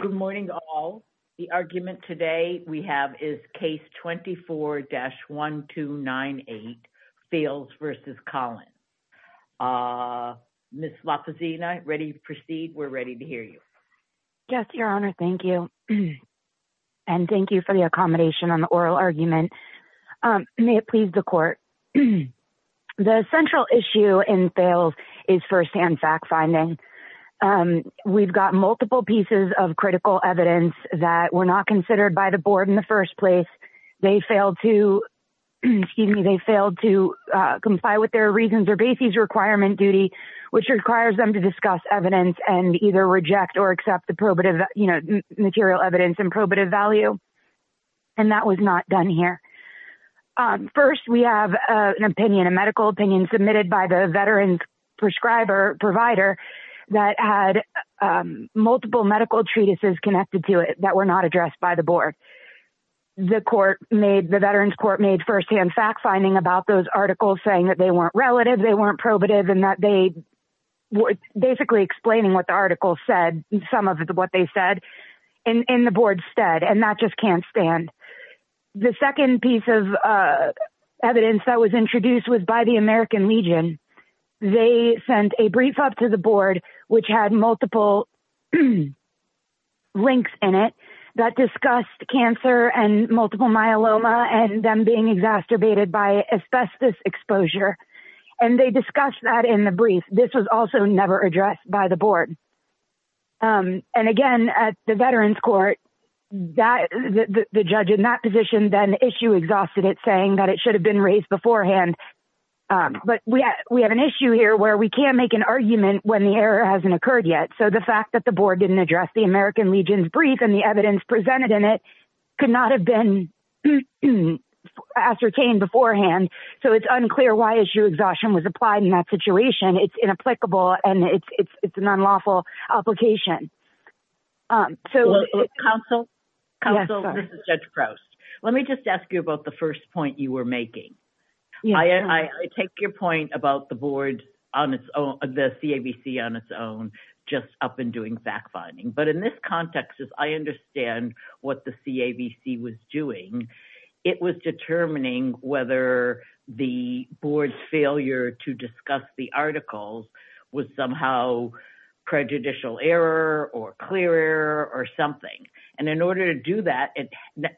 Good morning all. The argument today we have is case 24-1298, Fales v. Collins. Ms. Lopezina, ready to proceed? We're ready to hear you. Yes, your honor. Thank you. And thank you for the accommodation on the oral argument. May it please the court. The central issue in Fales is first-hand fact-finding. We've got multiple pieces of critical evidence that were not considered by the board in the first place. They failed to comply with their reasons or bases requirement duty, which requires them to discuss evidence and either reject or accept the material evidence and probative value. And that was not done here. First, we have an opinion, medical opinion submitted by the veteran prescriber provider that had multiple medical treatises connected to it that were not addressed by the board. The veterans court made first-hand fact-finding about those articles saying that they weren't relative, they weren't probative, and that they were basically explaining what the article said, some of what they said, and the board said, and that just can't stand. The second piece of evidence that was introduced was by the American Legion. They sent a brief up to the board, which had multiple links in it that discussed cancer and multiple myeloma and them being exacerbated by asbestos exposure. And they discussed that in the brief. This was also never addressed by the board. And again, at the veterans court, the judge in that position then issue exhausted it, that it should have been raised beforehand. But we have an issue here where we can't make an argument when the error hasn't occurred yet. So the fact that the board didn't address the American Legion's brief and the evidence presented in it could not have been ascertained beforehand. So it's unclear why issue exhaustion was applied in that situation. It's inapplicable and it's an unlawful application. So counsel, counsel, this is Judge Crouse. Let me just ask you about the first point you were making. I take your point about the board on its own, the CAVC on its own, just up and doing fact finding. But in this context, as I understand what the CAVC was doing, it was determining whether the board's failure to discuss the articles was somehow prejudicial error or clear error or something. And in order to do that,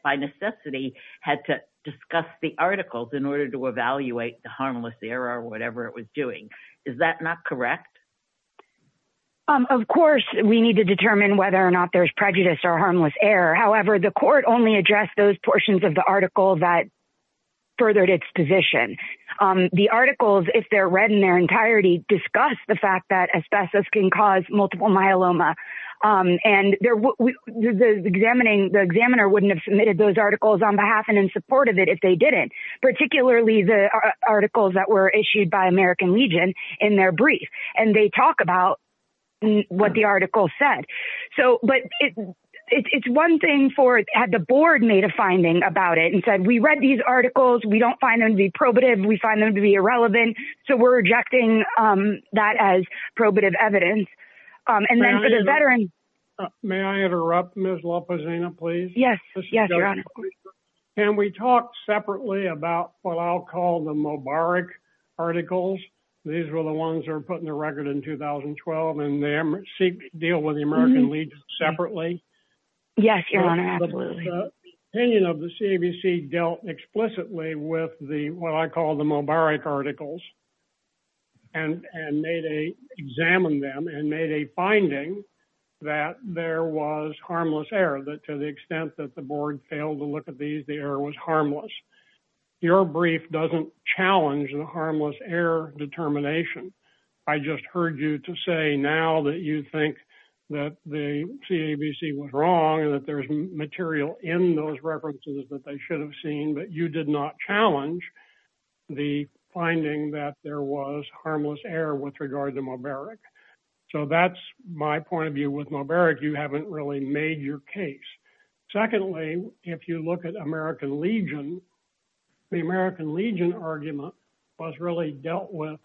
by necessity, had to discuss the articles in order to evaluate the harmless error or whatever it was doing. Is that not correct? Of course, we need to determine whether or not there's prejudice or harmless error. However, the court only addressed those portions of the article that furthered its position. The articles, if they're read in their entirety, discuss the fact that asbestos can cause multiple myeloma. And the examiner wouldn't have submitted those articles on behalf and in support of it if they didn't, particularly the articles that were issued by American Legion in their brief. And they talk about what the article said. So, but it's one thing for, had the board made a finding about it and said, we read these articles, we don't find them to be probative, we find them to be irrelevant. So we're rejecting that as probative evidence. And then for the veterans... May I interrupt Ms. Lopezina, please? Yes. Yes, Your Honor. Can we talk separately about what I'll call the Mubarak articles? These were the ones that were put in the record in 2012 and they deal with the American Legion separately. Yes, Your Honor, absolutely. The opinion of the CABC dealt explicitly with the, what I call the Mubarak articles and made a, examined them and made a finding that there was harmless error, that to the extent that the board failed to look at these, the error was harmless. Your brief doesn't challenge the harmless error determination. I just heard you to say now that you think that the CABC was wrong and that there's material in those references that they should have seen, but you did not challenge the finding that there was harmless error with regard to Mubarak. So that's my point of view with Mubarak, you haven't really made your case. Secondly, if you look at American Legion, the American Legion argument was really dealt with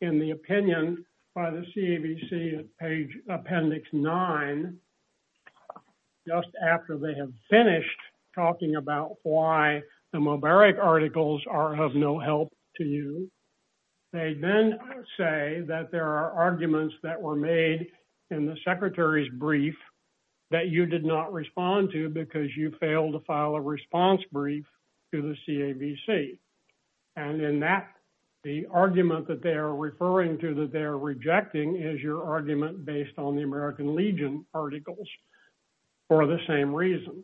in the opinion by the CABC at page appendix nine, just after they have finished talking about why the Mubarak articles are of no help to you. They then say that there are arguments that were made in the secretary's brief that you did not respond to because you failed to file a response brief to the CABC. And in that, the argument that they are referring to that they are rejecting is your argument based on the American Legion articles for the same reason.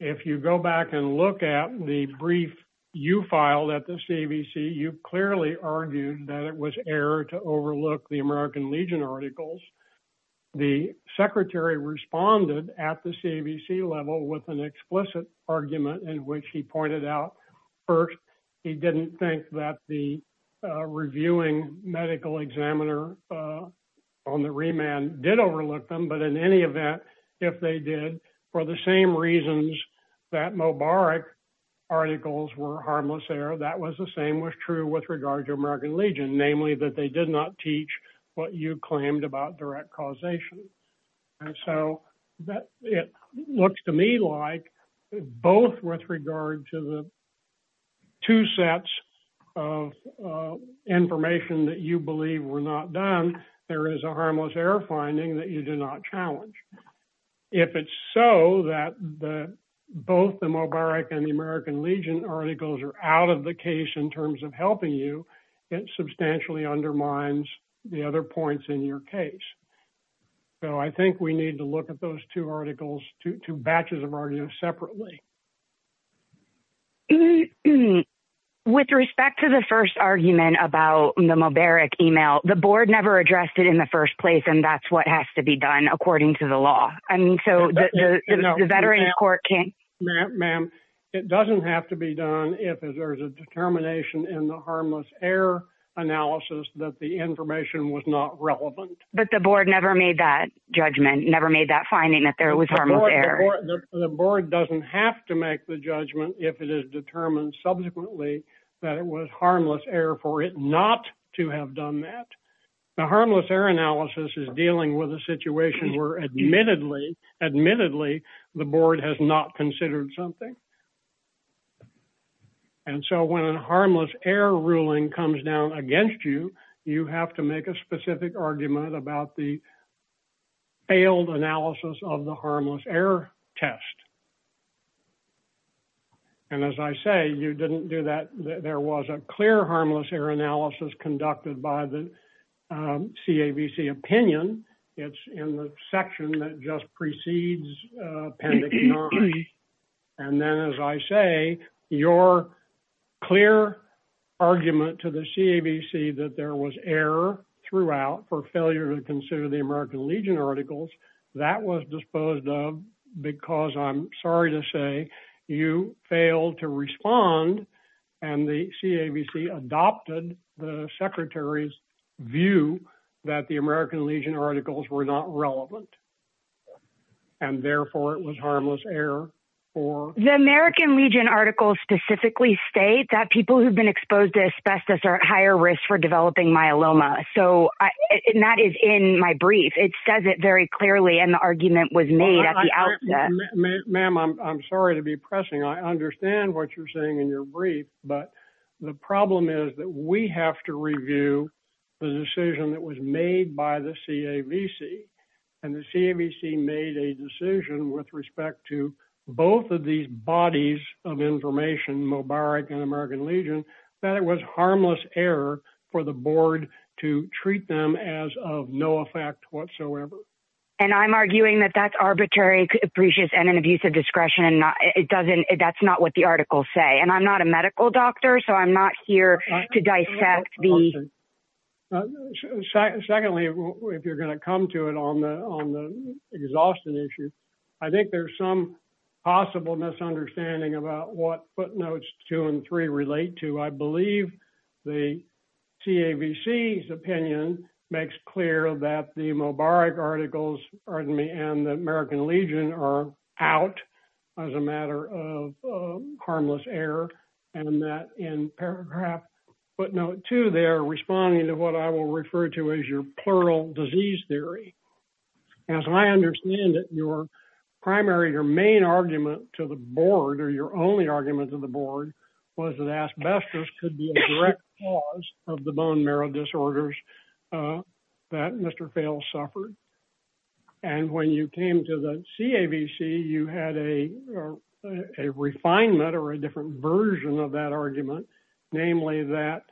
If you go back and look at the brief you filed at the CABC, you clearly argued that it was error to overlook the American Legion articles. The secretary responded at the CABC level with an explicit argument in which he pointed out, first, he didn't think that the reviewing medical examiner on the remand did overlook them, but in any event, if they did, for the same reasons that Mubarak articles were harmless error, that was the same was true with regard to American Legion, namely that they did not teach what you claimed about direct causation. And so it looks to me like both with regard to the two sets of information that you believe were not done, there is a harmless error finding that you did not challenge. If it's so that both the Mubarak and the American Legion articles are out of the case in terms of helping you, it substantially undermines the other points in your case. So I think we need to look at those two articles, two batches of arguments separately. With respect to the first argument about the Mubarak email, the board never addressed it in the first place. And that's what has to be done according to the law. I mean, so the Veterans Court can't... Ma'am, it doesn't have to be done if there's a determination in the harmless error analysis that the information was not relevant. But the board never made that judgment, never made that finding that there was harmless error. The board doesn't have to make the judgment if it is determined subsequently that it was harmless error for it not to have done that. The harmless error analysis is dealing with a situation where admittedly the board has not considered something. And so when a harmless error ruling comes down against you, you have to make a specific argument about the failed analysis of the harmless error test. And as I say, you didn't do there was a clear harmless error analysis conducted by the CAVC opinion. It's in the section that just precedes appendix nine. And then as I say, your clear argument to the CAVC that there was error throughout for failure to consider the American Legion articles, that was disposed of because I'm sorry to say you failed to respond and the CAVC adopted the secretary's view that the American Legion articles were not relevant. And therefore it was harmless error. The American Legion articles specifically state that people who've been exposed to asbestos are at higher risk for developing myeloma. So that is in my brief, it says it very clearly. And the argument was made at the outset. Ma'am, I'm sorry to be pressing. I understand what you're saying in your brief, but the problem is that we have to review the decision that was made by the CAVC and the CAVC made a decision with respect to both of these bodies of information, Mubarak and American Legion, that it was harmless error for the board to treat them as of no effect whatsoever. And I'm arguing that that's arbitrary, capricious and an abuse of discretion. That's not what the articles say. And I'm not a medical doctor, so I'm not here to dissect the... Secondly, if you're going to come to it on the exhaustion issue, I think there's some possible misunderstanding about what footnotes two and three relate to. I believe the CAVC's opinion makes clear that the Mubarak articles, pardon me, Mubarak and Legion are out as a matter of harmless error and that in paragraph footnote two, they're responding to what I will refer to as your plural disease theory. As I understand it, your primary, your main argument to the board or your only argument to the board was that asbestos could be a direct cause of the bone marrow disorders that Mr. Fales suffered. And when you came to the CAVC, you had a refinement or a different version of that argument, namely that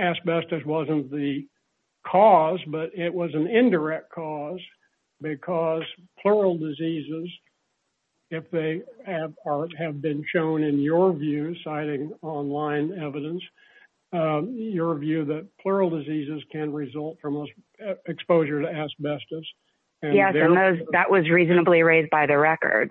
asbestos wasn't the cause, but it was an indirect cause because plural diseases, if they have been shown in your view, citing online evidence, your view that plural diseases can result from exposure to asbestos. Yes. And that was reasonably raised by the record.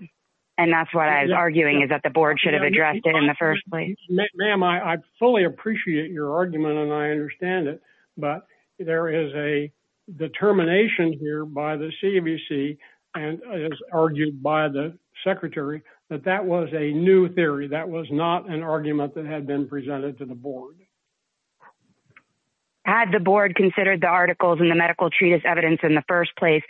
And that's what I was arguing is that the board should have addressed it in the first place. Ma'am, I fully appreciate your argument and I understand it, but there is a determination here by the CAVC and as argued by the secretary, that that was a new theory. That was not an argument that had been presented to the board. Had the board considered the articles in the medical treatise evidence in the first place,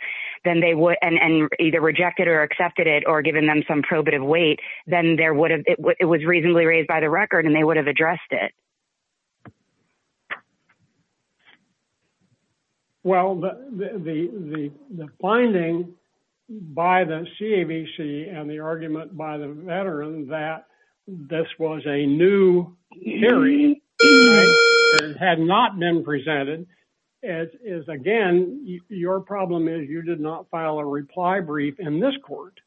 then they would, and either rejected or accepted it or given them some probative weight, then there would have, it was reasonably raised by the record and they would have addressed it. Well, the finding by the CAVC and the argument by the veteran that this was a new theory and had not been presented is again, your problem is you did not file a reply brief in this court.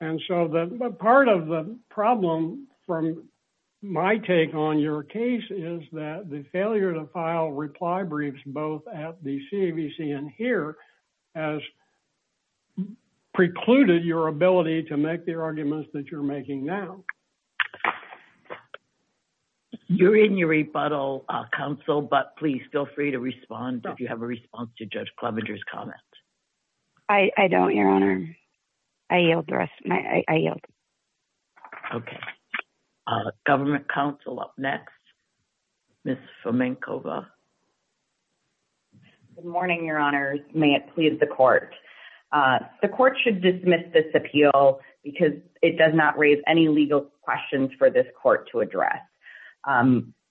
And so the part of the problem from my take on your case is that the failure to file reply briefs, both at the CAVC and here has precluded your ability to make the argument that you're making now. You're in your rebuttal council, but please feel free to respond if you have a response to Judge Klobuchar's comments. I don't, your honor. I yield the rest of my, I yield. Okay. Government council up next, Ms. Fomenkova. Good morning, your honors. May it please the court. The court should dismiss this appeal because it does not raise any legal questions for this court to address.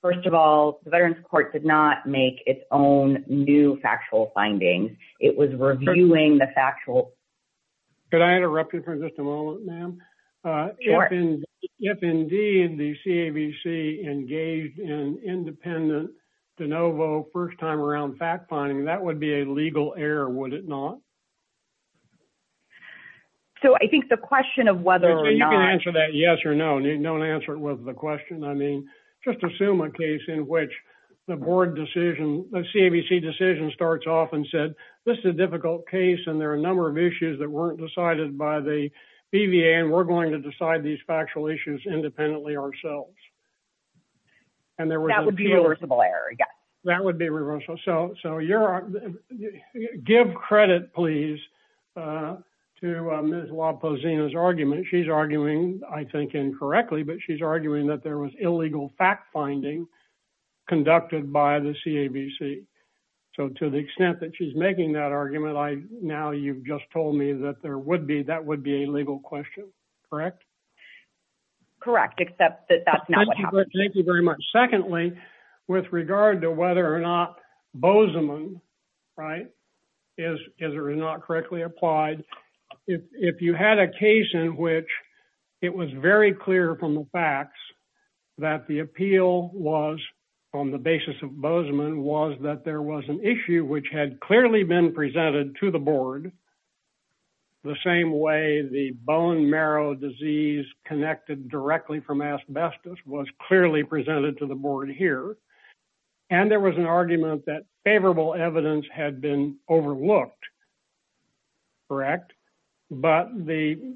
First of all, the veteran's court did not make its own new factual findings. It was reviewing the factual. Could I interrupt you for just a moment, ma'am? If indeed the CAVC engaged in independent de novo first time around fact finding, that would be a legal error, would it not? So I think the question of whether or not- You can answer that yes or no. Don't answer it with the question. I mean, just assume a case in which the board decision, the CAVC decision starts off and said, this is a difficult case and there are a number of issues that weren't decided by the BVA and we're going to decide these factual issues independently ourselves. And there were- That would be a reversible error, yes. That would be reversible. So you're, give credit please to Ms. LaPosina's argument. She's arguing, I think, incorrectly, but she's arguing that there was illegal fact finding conducted by the CAVC. So to the extent that she's making that argument, now you've just told me that that would be a legal question, correct? Correct, except that that's not what happened. Thank you very much. Secondly, with regard to whether or not Bozeman is or is not correctly applied, if you had a case in which it was very clear from the facts that the appeal was on the basis of Bozeman was that there was an issue which had clearly been presented to the board, the same way the bone marrow disease connected directly from asbestos was clearly presented to the board here. And there was an argument that favorable evidence had been overlooked, correct? But the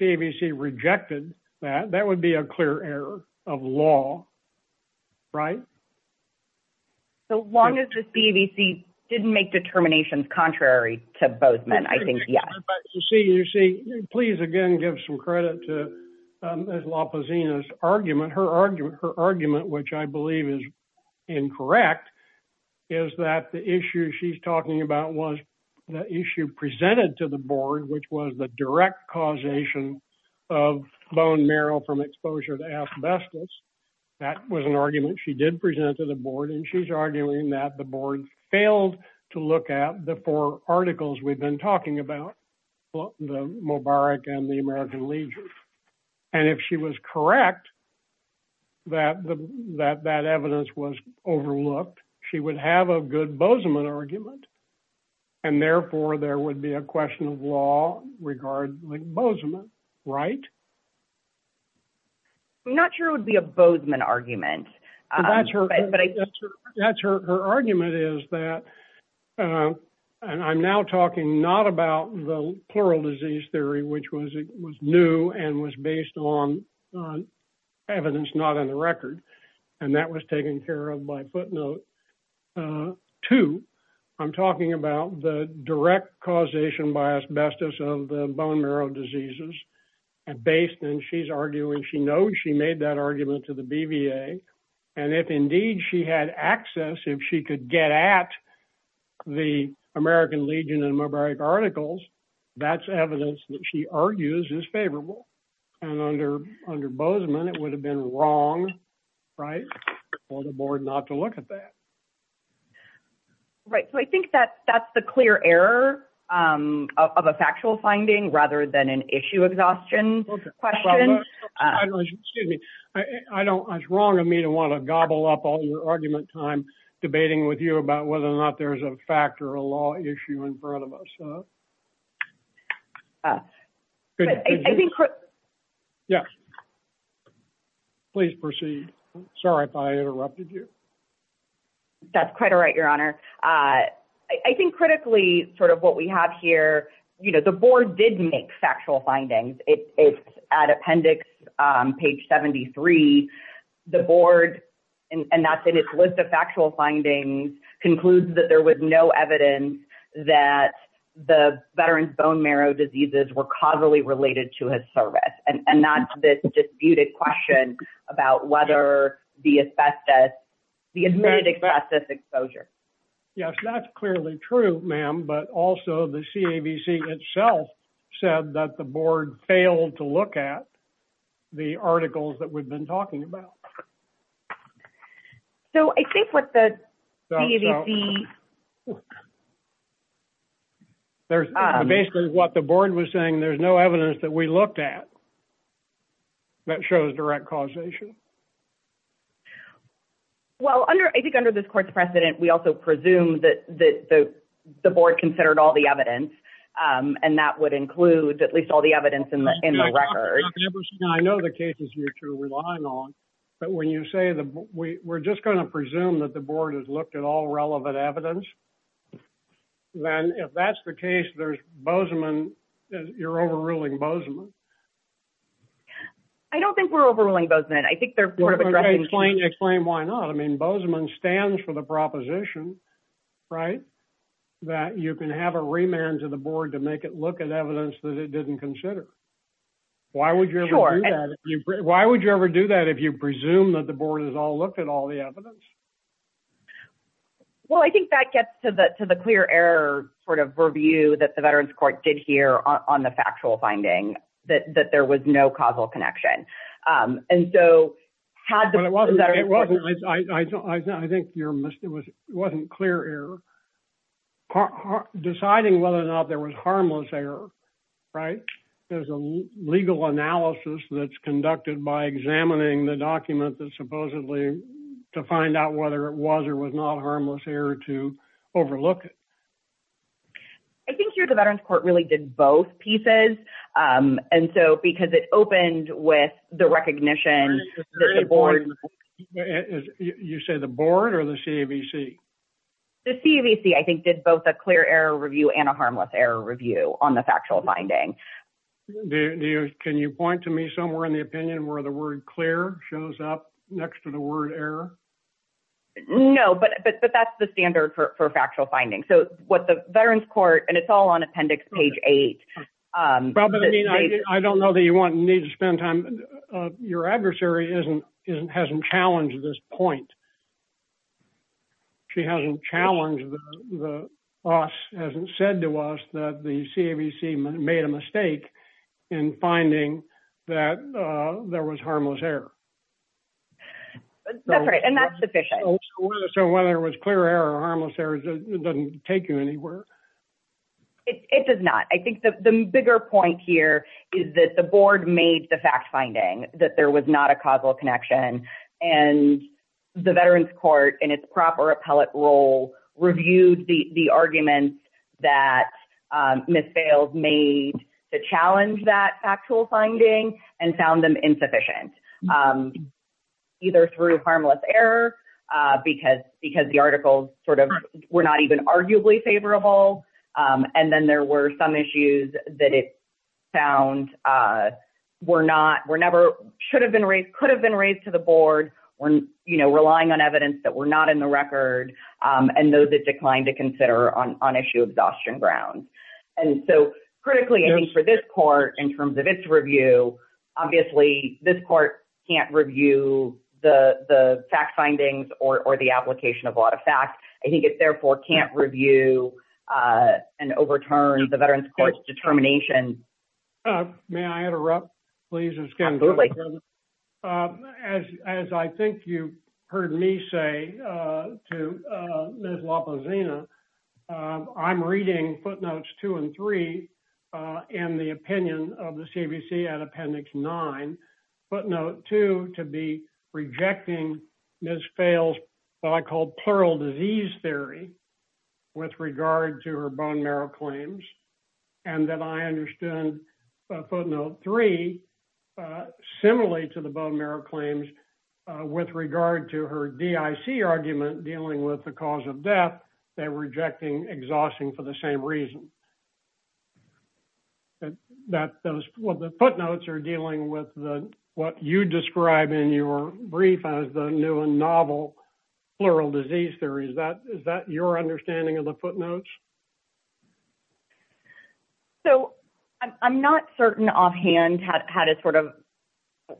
CAVC rejected that. That would be a clear error of law, right? So long as the CAVC didn't make determinations contrary to Bozeman, I think, you see, you see, please again, give some credit to La Pazina's argument. Her argument, which I believe is incorrect, is that the issue she's talking about was the issue presented to the board, which was the direct causation of bone marrow from exposure to asbestos. That was an argument she did present to the board. And she's arguing that the board failed to look at the four articles we've been talking about, the Mubarak and the American Legion. And if she was correct, that that evidence was overlooked, she would have a good Bozeman argument. And therefore, there would be a question of law regarding Bozeman, right? I'm not sure it would be a Bozeman argument. That's her. Her argument is that, and I'm now talking not about the plural disease theory, which was new and was based on evidence not on the record. And that was taken care of by footnote two. I'm talking about the direct causation by asbestos of the bone marrow diseases and based on she's arguing she knows she made that argument to the BVA. And if indeed she had access, if she could get at the American Legion and Mubarak articles, that's evidence that she argues is favorable. And under Bozeman, it would have been wrong, right? For the board not to look at that. Right. So I think that that's the clear error of a factual finding rather than an issue exhaustion question. Excuse me. I don't, it's wrong of me to want to gobble up all your argument time debating with you about whether or not there's a fact or a law issue in front of us. Yeah. Please proceed. Sorry if I interrupted you. That's quite all right, Your Honor. I think critically sort of what we have here, the board did make factual findings. It's at appendix page 73, the board and that's in its list of factual findings concludes that there was no evidence that the veteran's bone marrow diseases were causally related to his service and not this disputed question about whether the asbestos, the admitted asbestos exposure. Yes, that's clearly true, ma'am. But also the CAVC itself said that the board failed to look at the articles that we've been talking about. So I think what the CAVC. There's basically what the board was saying. There's no evidence that we looked at that shows direct causation. Well, under I think under this court's precedent, we also presume that the board considered all the evidence, and that would include at least all the evidence in the in the record. I know the cases you're relying on. But when you say that we're just going to presume that the board has looked at all relevant evidence, then if that's the case, there's Bozeman, you're overruling Bozeman. I don't think we're overruling Bozeman. I think they're sort of addressing. Explain why not. I mean, Bozeman stands for the proposition, right? That you can have a remand to the board to make it look at evidence that it didn't consider. Why would you ever do that? Why would you ever do that if you presume that the board has all looked at all the evidence? Well, I think that gets to the to the clear error sort of review that the Veterans Court did here on the factual finding that that there was no causal connection. And so, had the But it wasn't clear error. Deciding whether or not there was harmless error, right? There's a legal analysis that's conducted by examining the document that supposedly to find out whether it was or was not harmless error to overlook it. I think here the Veterans Court really did both pieces. And so, because it opened with the recognition that the board You say the board or the CAVC? The CAVC, I think, did both a clear error review and a harmless error review on the factual finding. Can you point to me somewhere in the opinion where the word clear shows up next to the word error? No, but that's the standard for factual finding. So, what the Veterans Court and it's all on appendix page eight. I don't know that you need to spend time. Your adversary hasn't challenged this point. She hasn't challenged, hasn't said to us that the CAVC made a mistake in finding that there was harmless error. That's right. And that's sufficient. So, whether it was clear error or harmless error, it doesn't take you anywhere. It does not. I think the bigger point here is that the board made the fact finding that there was not a causal connection and the Veterans Court in its proper appellate role reviewed the arguments that Ms. Bales made to challenge that factual finding and found them insufficient. Either through harmless error because the articles sort of were not even arguably favorable. And then there were some issues that it found were not, were never, should have been raised, could have been raised to the board when, you know, relying on evidence that were not in the record and those that declined to consider on issue of exhaustion grounds. And so, critically, I think for this court in terms of its review, obviously, this court can't review the fact findings or the application of a lot of fact. I think it therefore can't review and overturn the Veterans Court's determination. May I interrupt, please, Ms. Kendall? As I think you heard me say to Ms. Lopezina, I'm reading footnotes two and three in the opinion of the CBC at appendix nine. Footnote two to be rejecting Ms. Bales' what I call plural disease theory with regard to her bone marrow claims. And then I understood footnote three similarly to the bone marrow claims with regard to her DIC argument dealing with the cause of death, they're rejecting exhausting for the same reason. And that those, well, the footnotes are dealing with what you describe in your brief as the new and novel plural disease theory. Is that your understanding of the footnotes? So, I'm not certain offhand how to sort of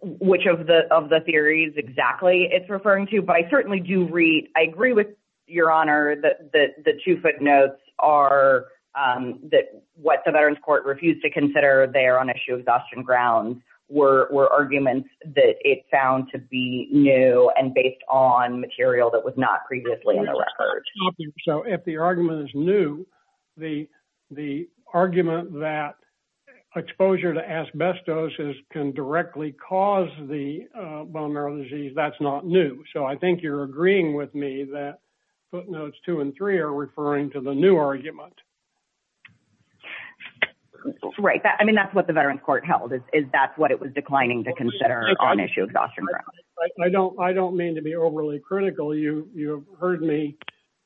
which of the theories exactly it's referring to. But I certainly do read, I agree with your honor that the two footnotes are that what the Veterans Court refused to consider there on issue of exhaustion grounds were arguments that it found to be new and based on material that was not previously in the record. So, if the argument is new, the argument that exposure to asbestosis can directly cause the bone marrow disease, that's not new. So, I think you're agreeing with me that footnotes two and three are referring to the new argument. Right. I mean, that's what the Veterans Court held is that's what it was declining to consider on issue of exhaustion grounds. I don't mean to be overly critical. You have heard me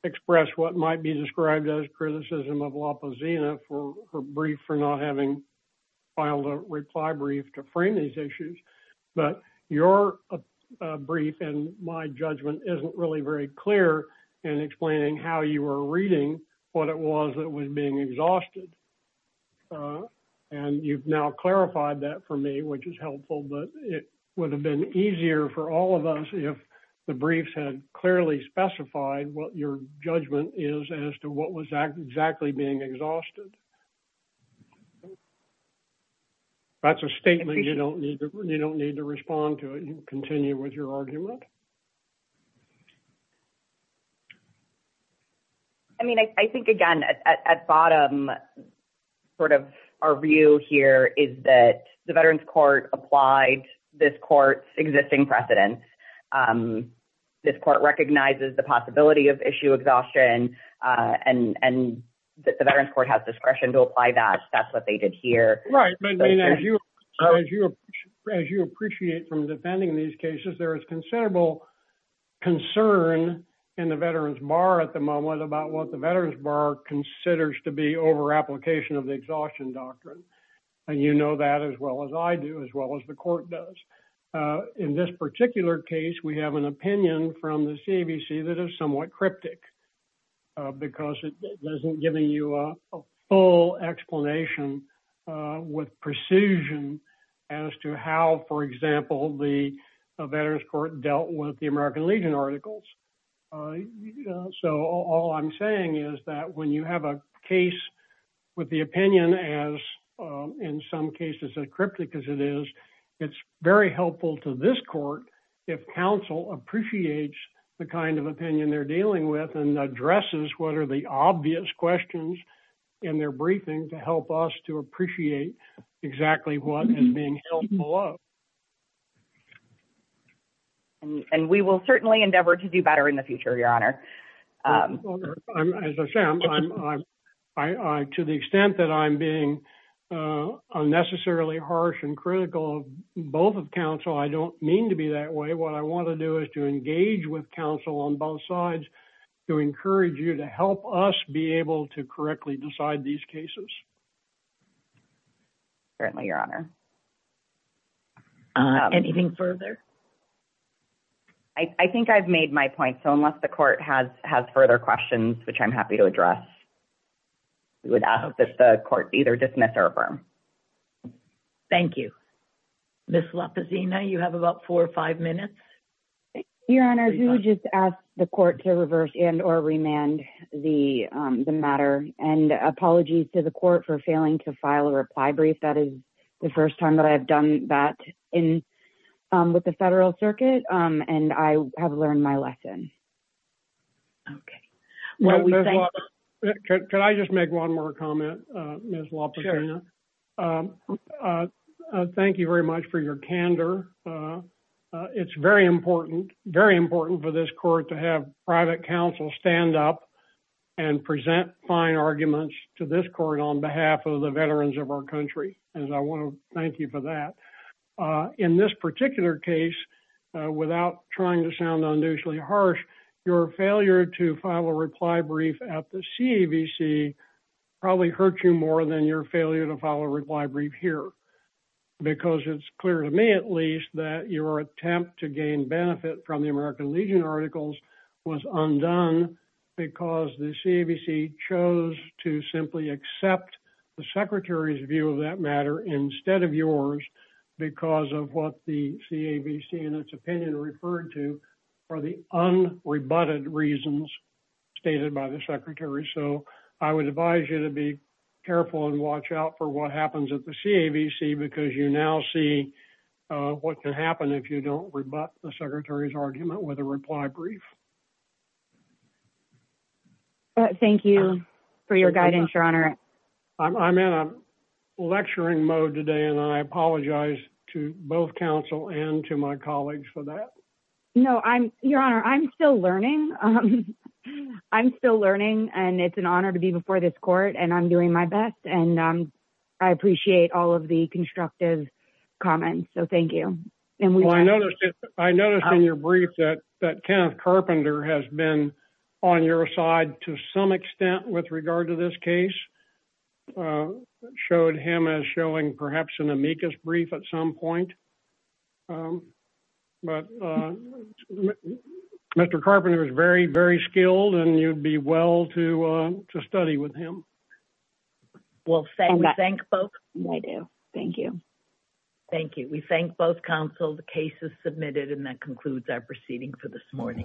express what might be described as criticism of La Pazina for her brief for not having filed a reply brief to frame these issues. But your brief and my judgment isn't really very clear in explaining how you were reading what it was that was being exhausted. And you've now clarified that for me, which is helpful. But it would have been easier for all of us if the briefs had clearly specified what your judgment is as to what was exactly being exhausted. That's a statement you don't need to respond to and continue with your argument. I mean, I think, again, at bottom, sort of our view here is that the Veterans Court applied this court's existing precedence. This court recognizes the possibility of issue exhaustion and the Veterans Court has discretion to apply that. That's what they did here. Right. But as you appreciate from defending these cases, there is considerable concern in the Veterans Bar at the moment about what the Veterans Bar considers to be over application of the exhaustion doctrine. And you know that as well as I do, as well as the court does. In this particular case, we have an opinion from the CABC that is somewhat cryptic because it doesn't give you a full explanation with precision as to how, for example, the Veterans Court dealt with the American Legion articles. So all I'm saying is that when you have a case with the opinion as in some cases as cryptic as it is, it's very helpful to this court if counsel appreciates the kind of opinion they're dealing with and addresses what are the obvious questions in their briefing to help us to appreciate exactly what is being held below. And we will certainly endeavor to do better in the future, Your Honor. As I said, to the extent that I'm being unnecessarily harsh and critical of both of counsel, I don't mean to be that way. What I want to do is to engage with counsel on both sides to encourage you to help us be able to correctly decide these cases. Certainly, Your Honor. Anything further? I think I've made my point. So unless the court has further questions, which I'm happy to address, we would ask that the court either dismiss or affirm. Thank you. Ms. Lopezina, you have about four or five minutes. Your Honor, I do just ask the court to reverse and or remand the matter. And apologies to the court for failing to file a reply brief. That is the first time that I've done that with the Federal Circuit. And I have learned my lesson. Could I just make one more comment, Ms. Lopezina? Thank you very much for your candor. It's very important, very important for this court to have private counsel stand up and present fine arguments to this court on behalf of the veterans of our country. And I want to thank you for that. In this particular case, without trying to sound unusually harsh, your failure to file a reply brief at the CAVC probably hurt you more than your failure to file a reply brief here, because it's clear to me, at least, that your attempt to gain benefit from the American Legion articles was undone because the CAVC chose to simply accept the Secretary's view of that matter instead of yours because of what the CAVC, in its opinion, referred to for the unrebutted reasons stated by the Secretary. So I would advise you to be careful and watch out for what happens at the CAVC, because you now see what can happen if you don't rebut the Secretary's argument with a reply brief. Thank you for your guidance, Your Honor. I'm in a lecturing mode today, and I apologize to both counsel and to my colleagues for that. No, Your Honor, I'm still learning. I'm still learning, and it's an honor to be before this court, and I'm doing my best. And I appreciate all of the constructive comments. So thank you. I noticed in your brief that Kenneth Carpenter has been on your side to some extent with regard to this case, showed him as showing perhaps an amicus brief at some point. But Mr. Carpenter is very, very skilled, and you'd be well to study with him. Well, thank you. We thank both counsel. The case is submitted, and that concludes our proceeding for this morning.